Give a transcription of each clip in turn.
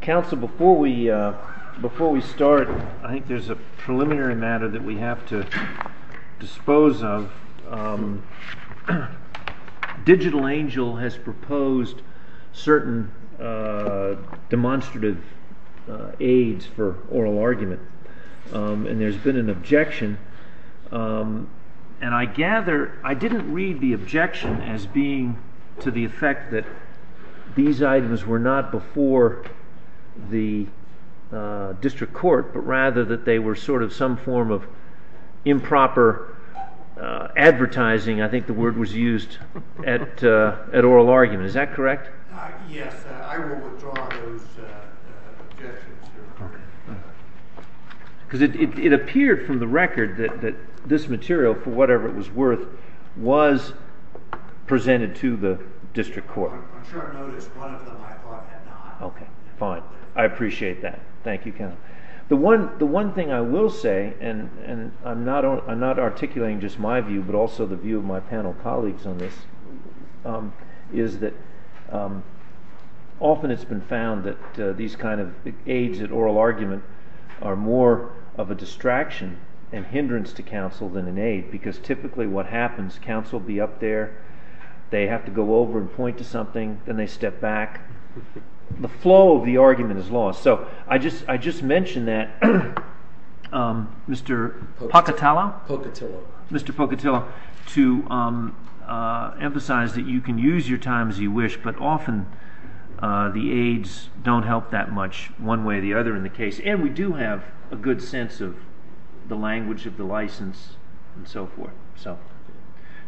Council, before we start, I think there's a preliminary matter that we have to dispose of. Digital Angel has proposed certain demonstrative aids for oral argument. And there's been an objection, and I gather, I didn't read the objection as being to the effect that these items were not before the district court, but rather that they were sort of some form of improper advertising. I think the word was used at oral argument. Is that correct? Yes, I will withdraw those objections. Because it appeared from the record that this material, for whatever it was worth, was presented to the district court. I'm sure I noticed one of them I thought had not. Okay, fine. I appreciate that. Thank you, counsel. The one thing I will say, and I'm not articulating just my view, but also the view of my panel colleagues on this, is that often it's been found that these kinds of aids at oral argument are more of a distraction and hindrance to counsel than an aid. Because typically what happens, counsel will be up there, they have to go over and point to something, then they step back. The flow of the argument is lost. I just mentioned that, Mr. Pocatillo, to emphasize that you can use your time as you wish, but often the aids don't help that much one way or the other in the case. And we do have a good sense of the language of the license and so forth.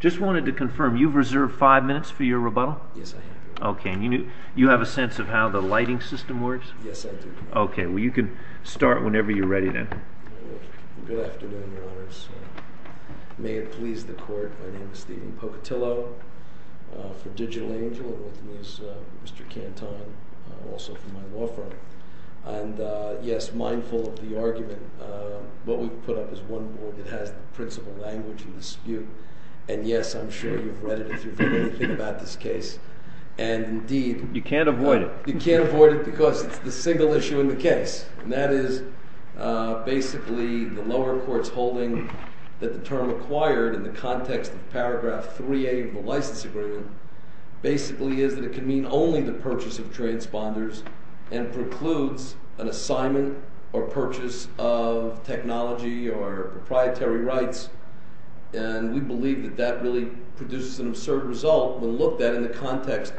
Just wanted to confirm, you've reserved five minutes for your rebuttal? Yes, I have. Okay, and you have a sense of how the lighting system works? Yes, I do. Okay, well you can start whenever you're ready then. Good afternoon, Your Honors. May it please the Court, my name is Stephen Pocatillo, for Digital Angel, and with me is Mr. Cantone, also from my law firm. And yes, mindful of the argument, what we've put up is one board that has the principal language in dispute. And yes, I'm sure you've read it if you've heard anything about this case. You can't avoid it. You can't avoid it because it's the single issue in the case, and that is basically the lower court's holding that the term acquired in the context of paragraph 3A of the license agreement basically is that it can mean only the purchase of transponders and precludes an assignment or purchase of technology or proprietary rights. And we believe that that really produces an absurd result when looked at in the context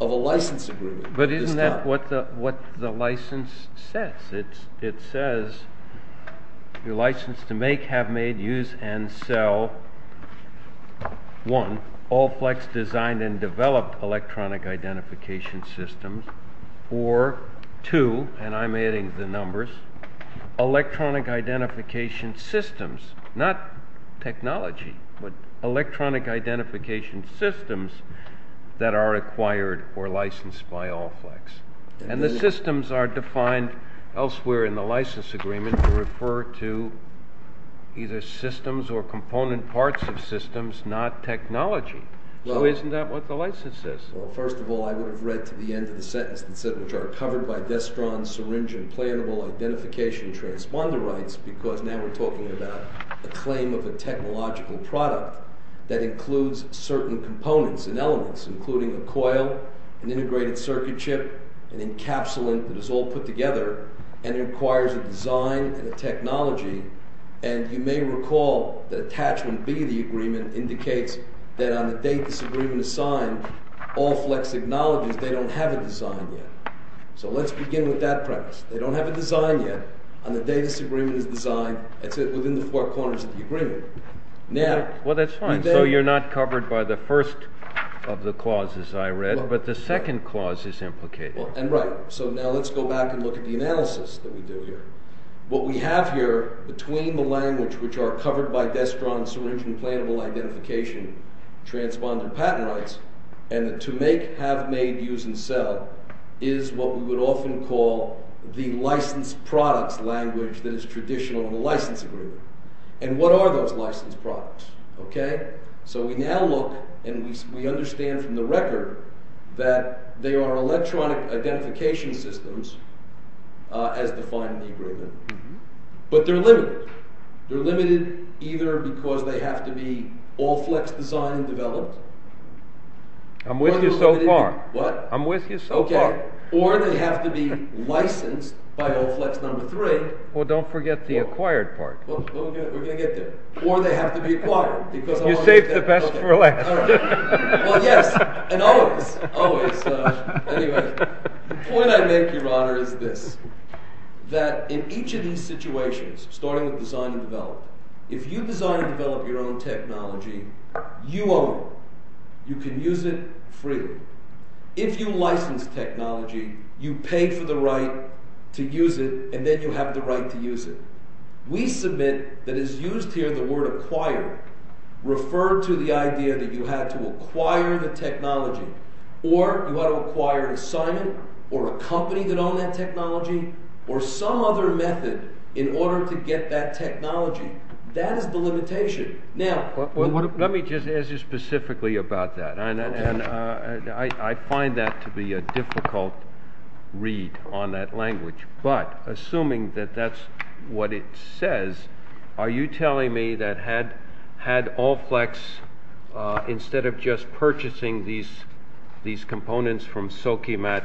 of a license agreement. But isn't that what the license says? It says, your license to make, have made, use, and sell, one, Allflex designed and developed electronic identification systems, or two, and I'm adding the numbers, electronic identification systems, not technology, but electronic identification systems that are acquired or licensed by Allflex. And the systems are defined elsewhere in the license agreement to refer to either systems or component parts of systems, not technology. So isn't that what the license says? Well, first of all, I would have read to the end of the sentence that said, which are covered by destron, syringe, and plannable identification transponder rights because now we're talking about a claim of a technological product that includes certain components and elements, including a coil, an integrated circuit chip, an encapsulant that is all put together and requires a design and a technology. And you may recall that attachment B of the agreement indicates that on the date this agreement is signed, Allflex acknowledges they don't have a design yet. So let's begin with that premise. They don't have a design yet. On the day this agreement is designed, it's within the four corners of the agreement. Well, that's fine. So you're not covered by the first of the clauses I read, but the second clause is implicated. And right. So now let's go back and look at the analysis that we do here. What we have here between the language, which are covered by destron, syringe, and plannable identification, transponder patent rights, and the to make, have made, use, and sell is what we would often call the licensed products language that is traditional in the license agreement. And what are those licensed products? So we now look and we understand from the record that they are electronic identification systems as defined in the agreement. But they're limited. They're limited either because they have to be Allflex designed and developed. I'm with you so far. What? I'm with you so far. Or they have to be licensed by Allflex number three. Well, don't forget the acquired part. We're going to get there. Or they have to be acquired. You saved the best for last. Well, yes. And always. Anyway. The point I make, Your Honor, is this. That in each of these situations, starting with design and develop, if you design and develop your own technology, you own it. You can use it free. If you license technology, you pay for the right to use it, and then you have the right to use it. We submit that it's used here, the word acquired, referred to the idea that you had to acquire the technology. Or you had to acquire an assignment or a company that owned that technology or some other method in order to get that technology. That is the limitation. Now, let me just ask you specifically about that. And I find that to be a difficult read on that language. But, assuming that that's what it says, are you telling me that had Olflex, instead of just purchasing these components from Sochimat,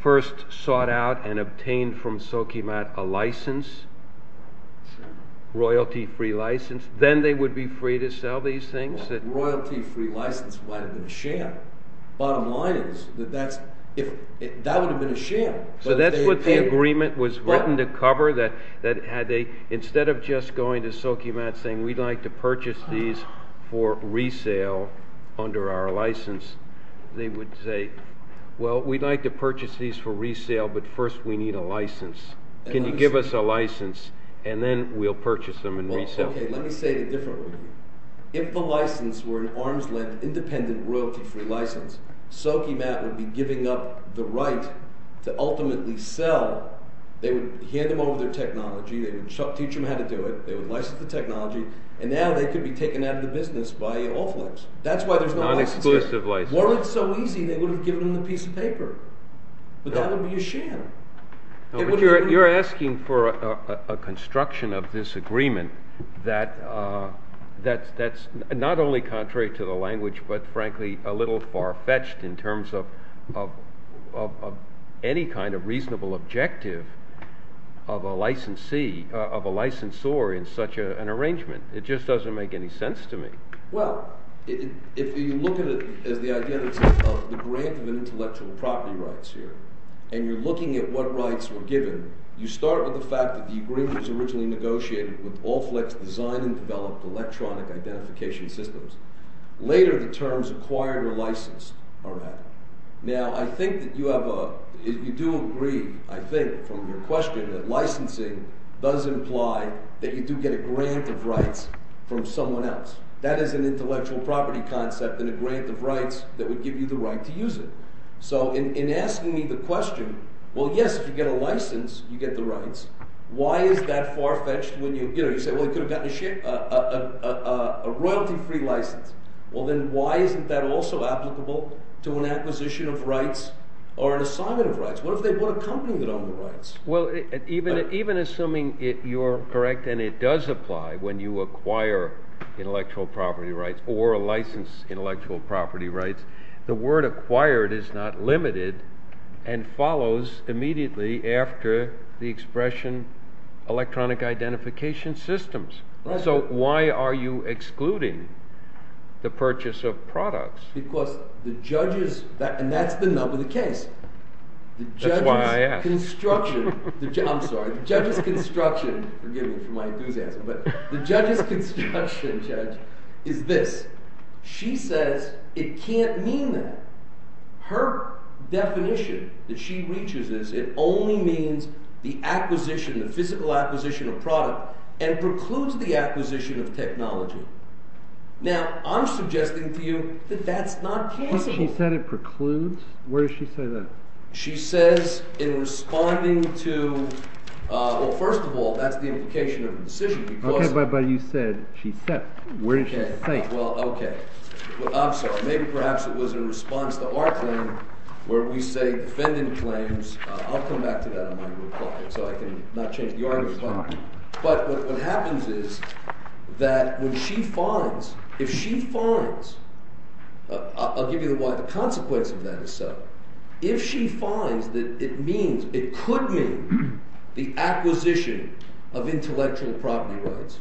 first sought out and obtained from Sochimat a license, royalty-free license, then they would be free to sell these things? Well, royalty-free license might have been a sham. Bottom line is that that would have been a sham. So that's what the agreement was written to cover? Instead of just going to Sochimat saying, we'd like to purchase these for resale under our license, they would say, well, we'd like to purchase these for resale, but first we need a license. Can you give us a license, and then we'll purchase them and resale them? If the license were an arms-length, independent, royalty-free license, Sochimat would be giving up the right to ultimately sell. They would hand them over their technology. They would teach them how to do it. They would license the technology. And now they could be taken out of the business by Olflex. That's why there's no license here. Non-exclusive license. Weren't it so easy, they would have given them the piece of paper. But that would be a sham. You're asking for a construction of this agreement that's not only contrary to the language but, frankly, a little far-fetched in terms of any kind of reasonable objective of a licensor in such an arrangement. It just doesn't make any sense to me. Well, if you look at it as the identity of the grant of intellectual property rights here, and you're looking at what rights were given, you start with the fact that the agreement was originally negotiated with Olflex Design and Developed Electronic Identification Systems. Later, the terms acquired or licensed are added. Now, I think that you do agree, I think, from your question that licensing does imply that you do get a grant of rights from someone else. That is an intellectual property concept and a grant of rights that would give you the right to use it. So in asking me the question, well, yes, if you get a license, you get the rights. Why is that far-fetched when you say, well, you could have gotten a royalty-free license? Well, then why isn't that also applicable to an acquisition of rights or an assignment of rights? What if they bought a company that owned the rights? Well, even assuming you're correct and it does apply when you acquire intellectual property rights or license intellectual property rights, the word acquired is not limited and follows immediately after the expression electronic identification systems. So why are you excluding the purchase of products? Because the judge's – and that's the nub of the case. That's why I asked. The judge's construction – I'm sorry. The judge's construction – forgive me for my enthusiasm – but the judge's construction, Judge, is this. She says it can't mean that. Her definition that she reaches is it only means the acquisition, the physical acquisition of product, and precludes the acquisition of technology. Now, I'm suggesting to you that that's not possible. She said it precludes? Where does she say that? She says in responding to – well, first of all, that's the implication of the decision because – Okay, but you said she said. Where did she say? Well, okay. I'm sorry. Maybe perhaps it was in response to our claim where we say defendant claims – I'll come back to that in my reply so I can not change the argument. But what happens is that when she finds – if she finds – I'll give you why the consequence of that is so. If she finds that it means – it could mean the acquisition of intellectual property rights,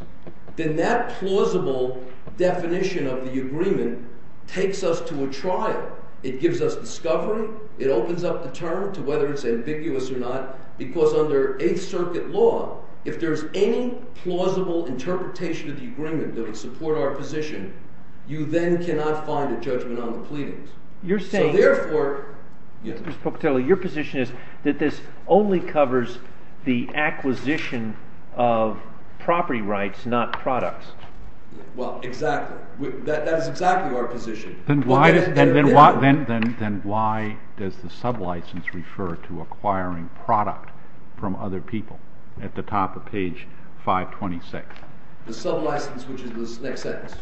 then that plausible definition of the agreement takes us to a trial. It gives us discovery. It opens up the term to whether it's ambiguous or not because under Eighth Circuit law, if there's any plausible interpretation of the agreement that would support our position, you then cannot find a judgment on the pleadings. You're saying – So therefore – Mr. Spocatelli, your position is that this only covers the acquisition of property rights, not products. Well, exactly. That is exactly our position. Then why does the sublicense refer to acquiring product from other people at the top of page 526? The sublicense, which is the next sentence?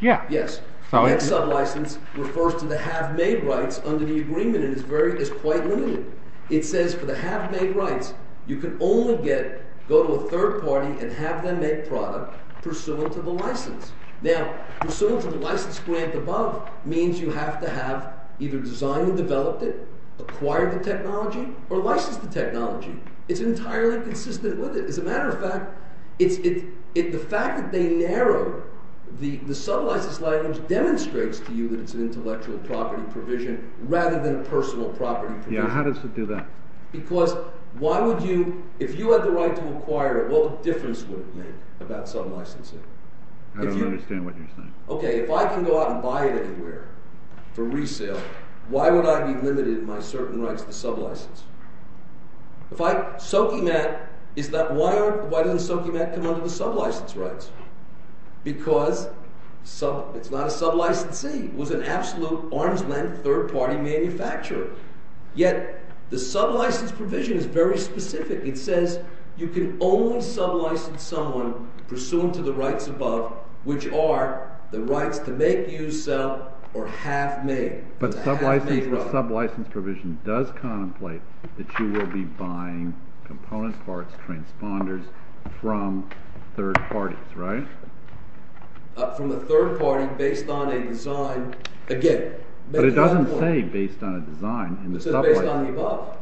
Yeah. Yes. The next sublicense refers to the have-made rights under the agreement, and it's quite limited. It says for the have-made rights, you can only get – go to a third party and have them make product pursuant to the license. Now, pursuant to the license grant above means you have to have either designed and developed it, acquired the technology, or licensed the technology. It's entirely consistent with it. As a matter of fact, the fact that they narrowed the sublicense items demonstrates to you that it's an intellectual property provision rather than a personal property provision. Yeah. How does it do that? Because why would you – if you had the right to acquire it, what difference would it make about sublicensing? I don't understand what you're saying. Okay. If I can go out and buy it anywhere for resale, why would I be limited in my certain rights to sublicense? If I – Soki Matt is that – why doesn't Soki Matt come under the sublicense rights? Because it's not a sublicensee. It was an absolute arms-length third-party manufacturer. Yet the sublicense provision is very specific. It says you can only sublicense someone pursuant to the rights above, which are the rights to make, use, sell, or have made. But the sublicense provision does contemplate that you will be buying component parts, transponders, from third parties, right? From a third party based on a design – again – But it doesn't say based on a design in the subright. It says based on the above.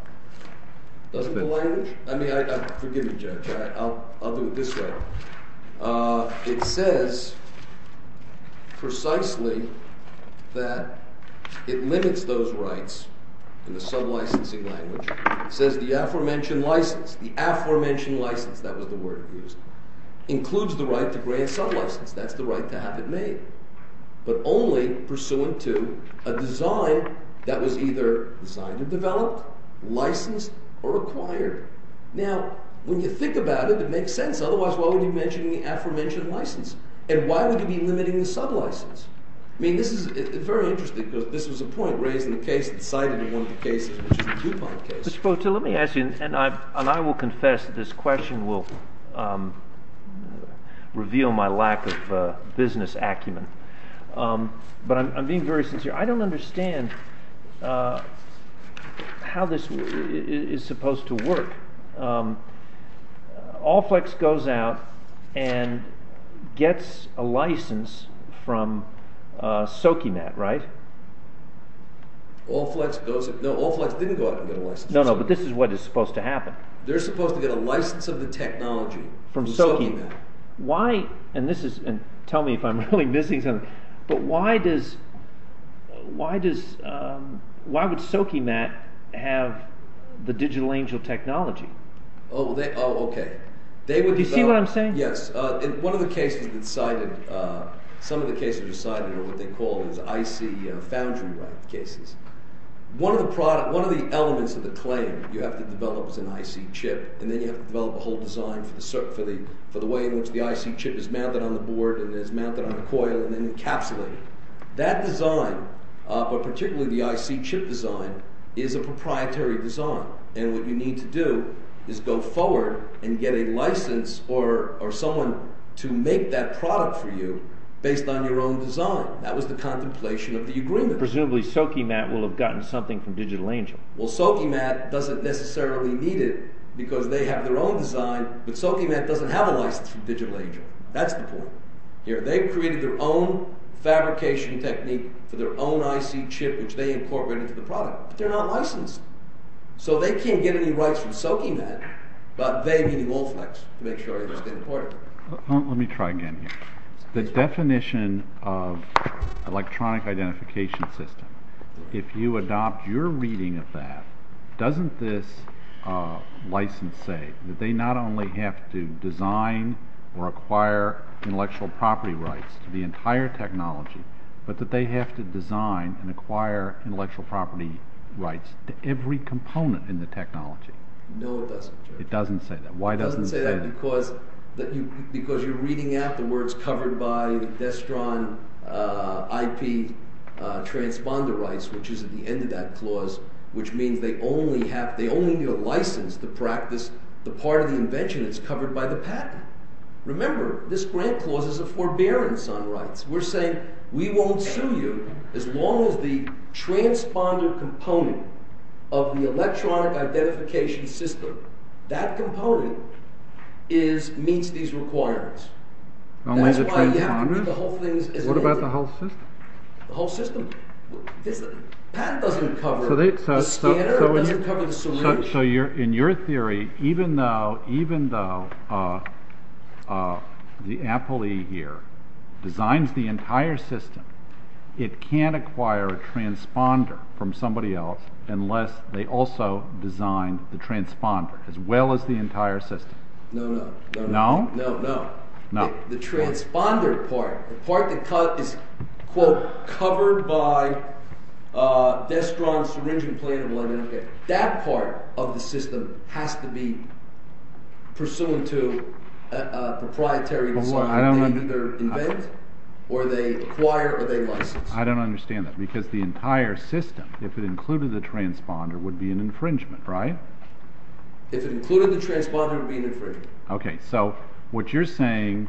Doesn't the language – I mean, forgive me, Judge. I'll do it this way. It says precisely that it limits those rights in the sublicensing language. It says the aforementioned license – the aforementioned license, that was the word used – includes the right to grant sublicense. That's the right to have it made, but only pursuant to a design that was either designed or developed, licensed, or acquired. Now, when you think about it, it makes sense. Otherwise, why would you be mentioning the aforementioned license? And why would you be limiting the sublicense? I mean, this is very interesting because this was a point raised in the case – cited in one of the cases, which is the DuPont case. Mr. Potil, let me ask you, and I will confess that this question will reveal my lack of business acumen, but I'm being very sincere. I don't understand how this is supposed to work. Allflex goes out and gets a license from Sokeymat, right? Allflex goes – no, Allflex didn't go out and get a license. No, no, but this is what is supposed to happen. They're supposed to get a license of the technology from Sokeymat. Why – and this is – and tell me if I'm really missing something – but why does – why would Sokeymat have the Digital Angel technology? Oh, okay. Do you see what I'm saying? Yes. In one of the cases that's cited – some of the cases that are cited are what they call IC foundry-like cases. One of the elements of the claim you have to develop is an IC chip, and then you have to develop a whole design for the way in which the IC chip is mounted on the board and is mounted on the coil and then encapsulated. That design, but particularly the IC chip design, is a proprietary design, and what you need to do is go forward and get a license or someone to make that product for you based on your own design. That was the contemplation of the agreement. Presumably Sokeymat will have gotten something from Digital Angel. Well, Sokeymat doesn't necessarily need it because they have their own design, but Sokeymat doesn't have a license from Digital Angel. That's the point here. They've created their own fabrication technique for their own IC chip, which they incorporated into the product, but they're not licensed. So they can't get any rights from Sokeymat, but they need an Olflex to make sure it's imported. Let me try again here. The definition of electronic identification system, if you adopt your reading of that, doesn't this license say that they not only have to design or acquire intellectual property rights to the entire technology, but that they have to design and acquire intellectual property rights to every component in the technology? No, it doesn't. It doesn't say that. Why doesn't it say that? It doesn't say that because you're reading out the words covered by the Destron IP transponder rights, which is at the end of that clause, which means they only need a license to practice the part of the invention that's covered by the patent. Remember, this grant clause is a forbearance on rights. We're saying we won't sue you as long as the transponder component of the electronic identification system, that component, meets these requirements. Only the transponder? What about the whole system? The whole system? The patent doesn't cover the scanner. It doesn't cover the solution. So in your theory, even though the appellee here designs the entire system, it can't acquire a transponder from somebody else unless they also design the transponder as well as the entire system? No, no. No? No, no. No. The transponder part, the part that is, quote, covered by Destron's syringing plan of identification, that part of the system has to be pursuant to a proprietary decision. They either invent or they acquire or they license. I don't understand that because the entire system, if it included the transponder, would be an infringement, right? If it included the transponder, it would be an infringement. Okay, so what you're saying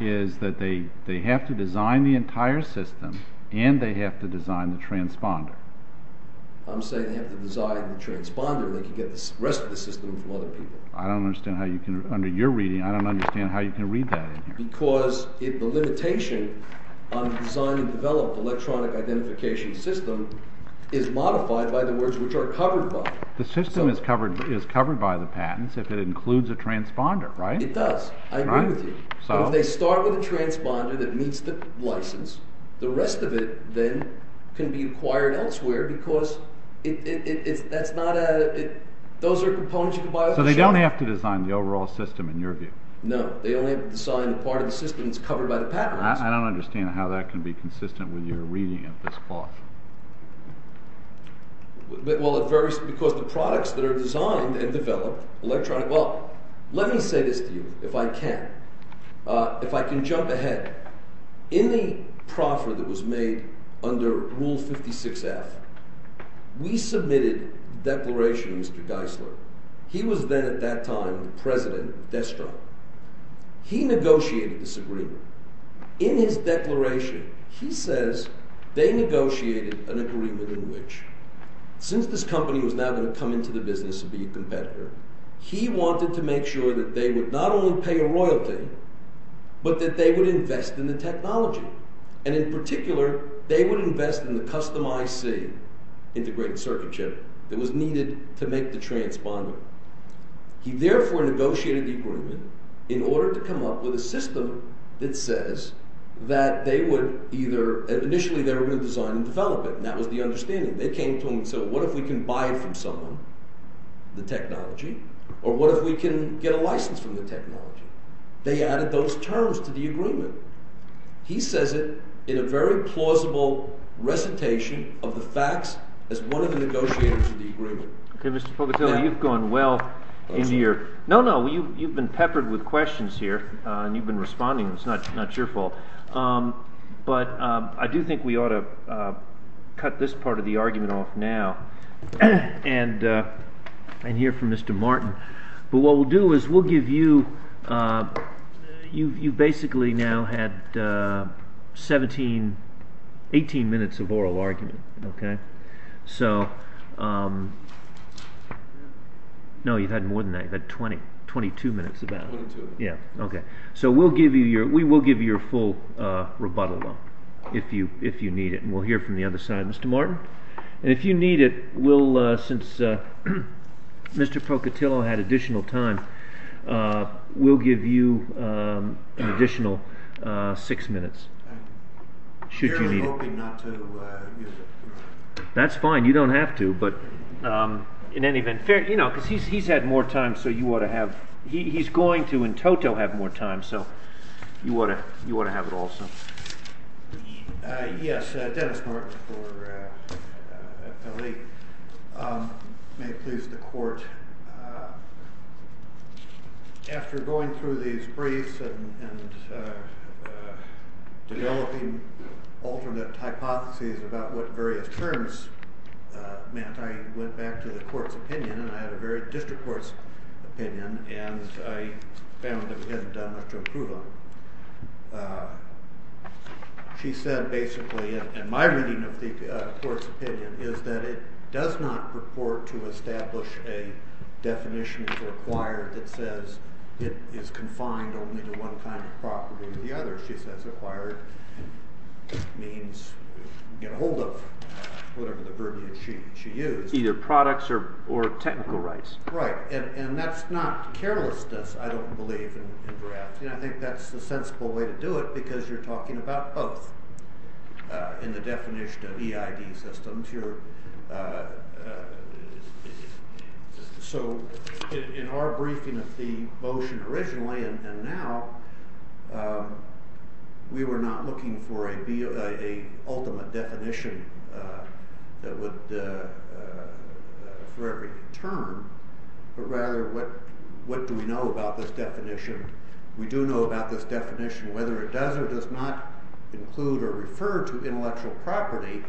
is that they have to design the entire system and they have to design the transponder. I'm saying they have to design the transponder. They can get the rest of the system from other people. I don't understand how you can, under your reading, I don't understand how you can read that in here. Because the limitation on the design and development of the electronic identification system is modified by the words which are covered by it. The system is covered by the patents if it includes a transponder, right? It does. I agree with you. But if they start with a transponder that meets the license, the rest of it then can be acquired elsewhere because that's not a, those are components you can buy off the shelf. So they don't have to design the overall system in your view? No, they only have to design the part of the system that's covered by the patent license. I don't understand how that can be consistent with your reading of this clause. Well, it varies because the products that are designed and developed, electronic, well, let me say this to you if I can. If I can jump ahead, in the proffer that was made under Rule 56F, we submitted a declaration to Mr. Geisler. He was then, at that time, the president of Destro. He negotiated this agreement. In his declaration, he says they negotiated an agreement in which, since this company was now going to come into the business and be a competitor, he wanted to make sure that they would not only pay a royalty, but that they would invest in the technology. And in particular, they would invest in the custom IC, integrated circuit chip, that was needed to make the transponder. He therefore negotiated the agreement in order to come up with a system that says that they would either, initially they were going to design and develop it. And that was the understanding. They came to him and said, what if we can buy it from someone, the technology, or what if we can get a license from the technology? They added those terms to the agreement. He says it in a very plausible recitation of the facts as one of the negotiators of the agreement. OK, Mr. Pocatillo, you've gone well into your – no, no, you've been peppered with questions here, and you've been responding. It's not your fault. But I do think we ought to cut this part of the argument off now and hear from Mr. Martin. But what we'll do is we'll give you – you've basically now had 17, 18 minutes of oral argument. So – no, you've had more than that. You've had 20, 22 minutes about. Twenty-two. Yeah, OK. So we will give you your full rebuttal if you need it, and we'll hear from the other side. Mr. Martin? And if you need it, we'll – since Mr. Pocatillo had additional time, we'll give you an additional six minutes should you need it. I'm hoping not to use it. That's fine. You don't have to. But in any event – you know, because he's had more time, so you ought to have – he's going to in toto have more time, so you ought to have it also. Yes, Dennis Martin for L.A. May it please the Court, after going through these briefs and developing alternate hypotheses about what various terms meant, I went back to the Court's opinion, and I had a very district court's opinion, and I found that we hadn't done much to improve on it. She said basically, in my reading of the Court's opinion, is that it does not purport to establish a definition for acquired that says it is confined only to one kind of property or the other. She says acquired means get a hold of whatever the verbiage she used. Either products or technical rights. Right, and that's not carelessness, I don't believe, in drafting. I think that's the sensible way to do it because you're talking about both in the definition of EID systems. So, in our briefing of the motion originally, and now, we were not looking for an ultimate definition for every term, but rather what do we know about this definition. We do know about this definition, whether it does or does not include or refer to intellectual property,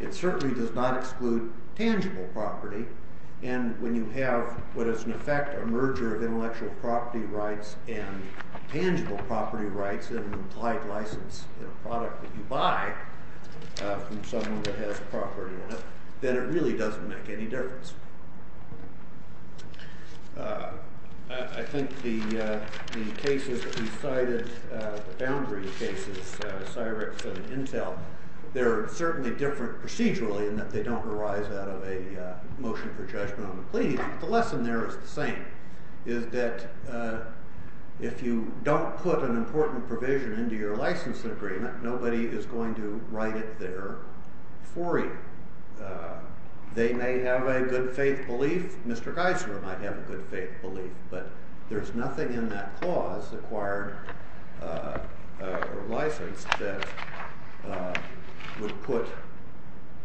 it certainly does not exclude tangible property, and when you have what is in effect a merger of intellectual property rights and tangible property rights, an implied license in a product that you buy from someone that has property in it, then it really doesn't make any difference. I think the cases that we cited, the boundary cases, Cyrix and Intel, they're certainly different procedurally in that they don't arise out of a motion for judgment on the plea, but the lesson there is the same, is that if you don't put an important provision into your license agreement, nobody is going to write it there for you. They may have a good faith belief, Mr. Geiser might have a good faith belief, but there's nothing in that clause, acquired or licensed, that would put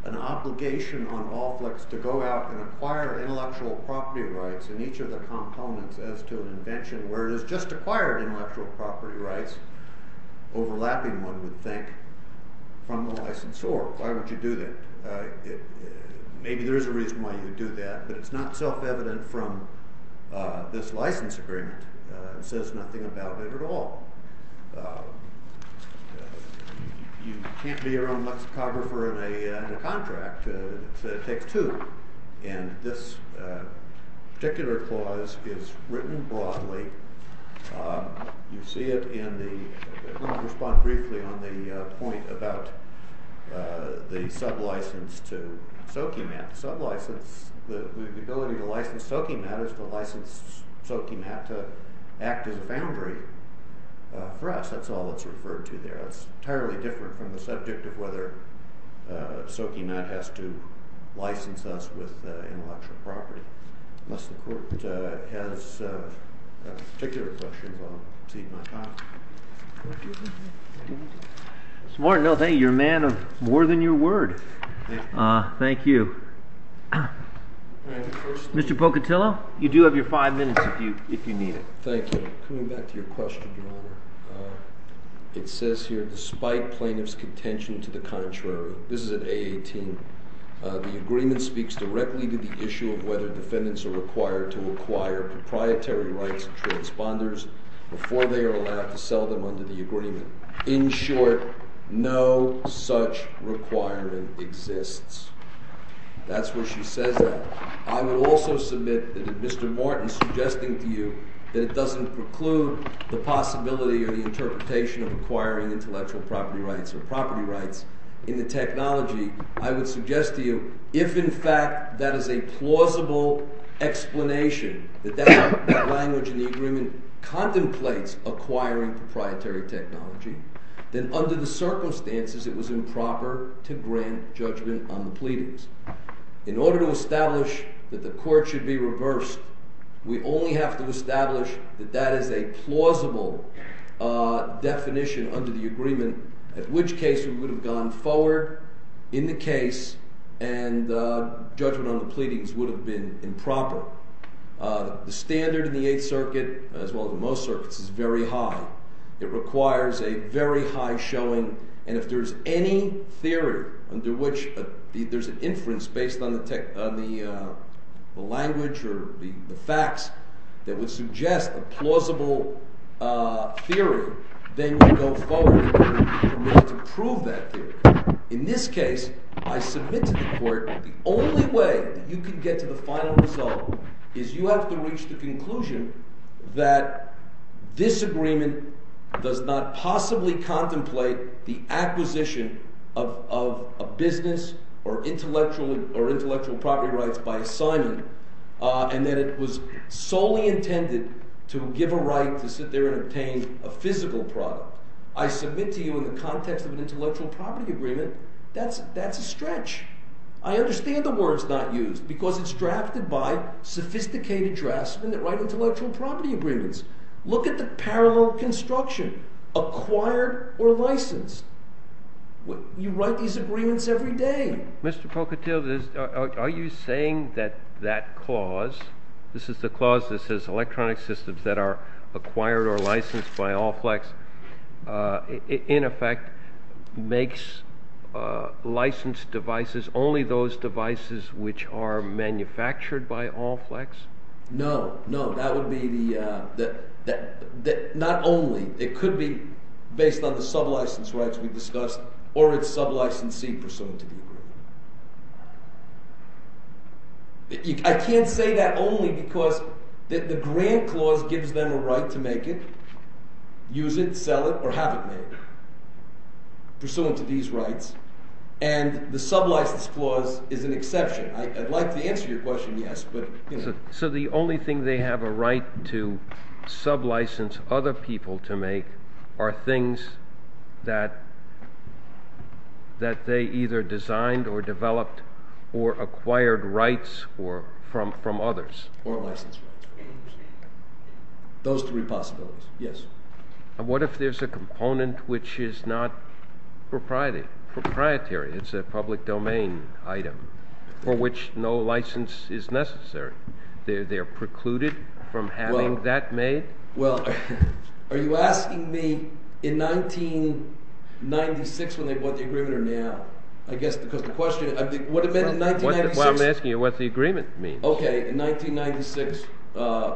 an obligation on Allflicks to go out and acquire intellectual property rights in each of the components as to an invention, whereas just acquired intellectual property rights, overlapping one would think, from the licensor, why would you do that? Maybe there's a reason why you would do that, but it's not self-evident from this license agreement. It says nothing about it at all. You can't be your own lexicographer in a contract. It takes two, and this particular clause is written broadly. You see it in the—I'm going to respond briefly on the point about the sub-license to Sokiemat. The ability to license Sokiemat is to license Sokiemat to act as a boundary for us. That's all that's referred to there. It's entirely different from the subject of whether Sokiemat has to license us with intellectual property. Unless the court has a particular question, I'll concede my time. Smart. No, thank you. You're a man of more than your word. Thank you. Mr. Pocatillo, you do have your five minutes if you need it. Thank you. Coming back to your question, Your Honor, it says here, despite plaintiff's contention to the contrary—this is at A18— the agreement speaks directly to the issue of whether defendants are required to acquire proprietary rights of transponders before they are allowed to sell them under the agreement. In short, no such requirement exists. That's where she says that. I will also submit that if Mr. Morton is suggesting to you that it doesn't preclude the possibility or the interpretation of acquiring intellectual property rights or property rights in the technology, I would suggest to you if, in fact, that is a plausible explanation that that language in the agreement contemplates acquiring proprietary technology, then under the circumstances it was improper to grant judgment on the pleadings. In order to establish that the court should be reversed, we only have to establish that that is a plausible definition under the agreement, at which case we would have gone forward in the case and judgment on the pleadings would have been improper. The standard in the Eighth Circuit, as well as in most circuits, is very high. It requires a very high showing, and if there's any theory under which there's an inference based on the language or the facts that would suggest a plausible theory, then you go forward in order to prove that theory. In this case, I submit to the court the only way that you can get to the final result is you have to reach the conclusion that this agreement does not possibly contemplate the acquisition of a business or intellectual property rights by assignment and that it was solely intended to give a right to sit there and obtain a physical product. I submit to you in the context of an intellectual property agreement, that's a stretch. I understand the words not used because it's drafted by sophisticated draftsmen that write intellectual property agreements. Look at the parallel construction, acquired or licensed. You write these agreements every day. Mr. Pocatiel, are you saying that that clause, this is the clause that says electronic systems that are acquired or licensed by Allflex, in effect makes licensed devices only those devices which are manufactured by Allflex? No, no. That would be the – not only. It could be based on the sublicense rights we discussed or its sublicensee pursuant to the agreement. I can't say that only because the grant clause gives them a right to make it, use it, sell it, or have it made pursuant to these rights, and the sublicense clause is an exception. I'd like to answer your question, yes, but – So the only thing they have a right to sublicense other people to make are things that they either designed or developed or acquired rights from others? Or licensed rights. Those three possibilities, yes. And what if there's a component which is not proprietary? It's a public domain item for which no license is necessary. They're precluded from having that made? Well, are you asking me in 1996 when they bought the agreement or now? I guess because the question – what it meant in 1996 – Well, I'm asking you what the agreement means. Okay. In 1996,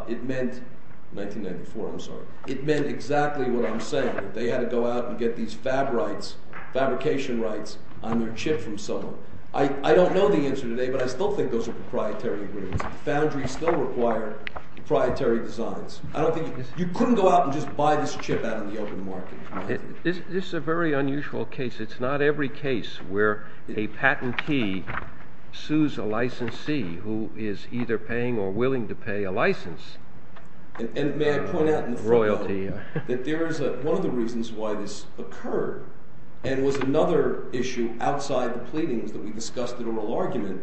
it meant – 1994, I'm sorry. It meant exactly what I'm saying, that they had to go out and get these fab rights, fabrication rights, on their chip from someone. I don't know the answer today, but I still think those are proprietary agreements. The foundries still require proprietary designs. I don't think – you couldn't go out and just buy this chip out in the open market. This is a very unusual case. It's not every case where a patentee sues a licensee who is either paying or willing to pay a license. And may I point out – Royalty. – that there is – one of the reasons why this occurred and was another issue outside the pleadings that we discussed in oral argument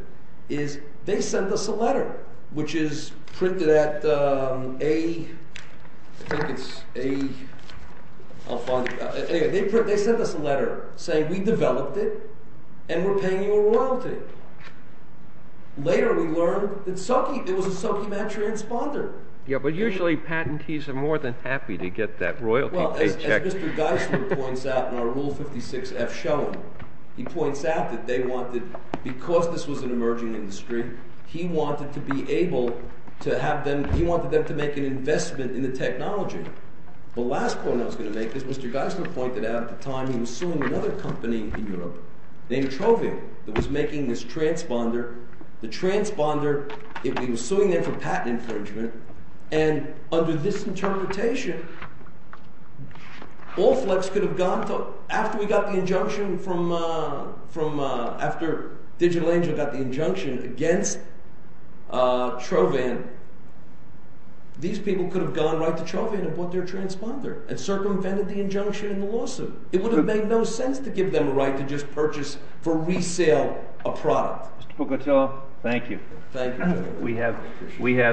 is they sent us a letter, which is printed at a – I think it's a – I'll find it. Yeah, but usually, patentees are more than happy to get that royalty paycheck. Well, as Mr. Geisler points out in our Rule 56-F showing, he points out that they wanted – because this was an emerging industry, he wanted to be able to have them – he wanted them to make an investment in the technology. The last point I was going to make is Mr. Geisler pointed out at the time he was suing another company in Europe named Trovan that was making this transponder. He was suing them for patent infringement, and under this interpretation, Allflex could have gone to – after we got the injunction from – after Digital Angel got the injunction against Trovan, these people could have gone right to Trovan and bought their transponder and circumvented the injunction in the lawsuit. It would have made no sense to give them a right to just purchase for resale a product. Mr. Pugatillo, thank you. Thank you.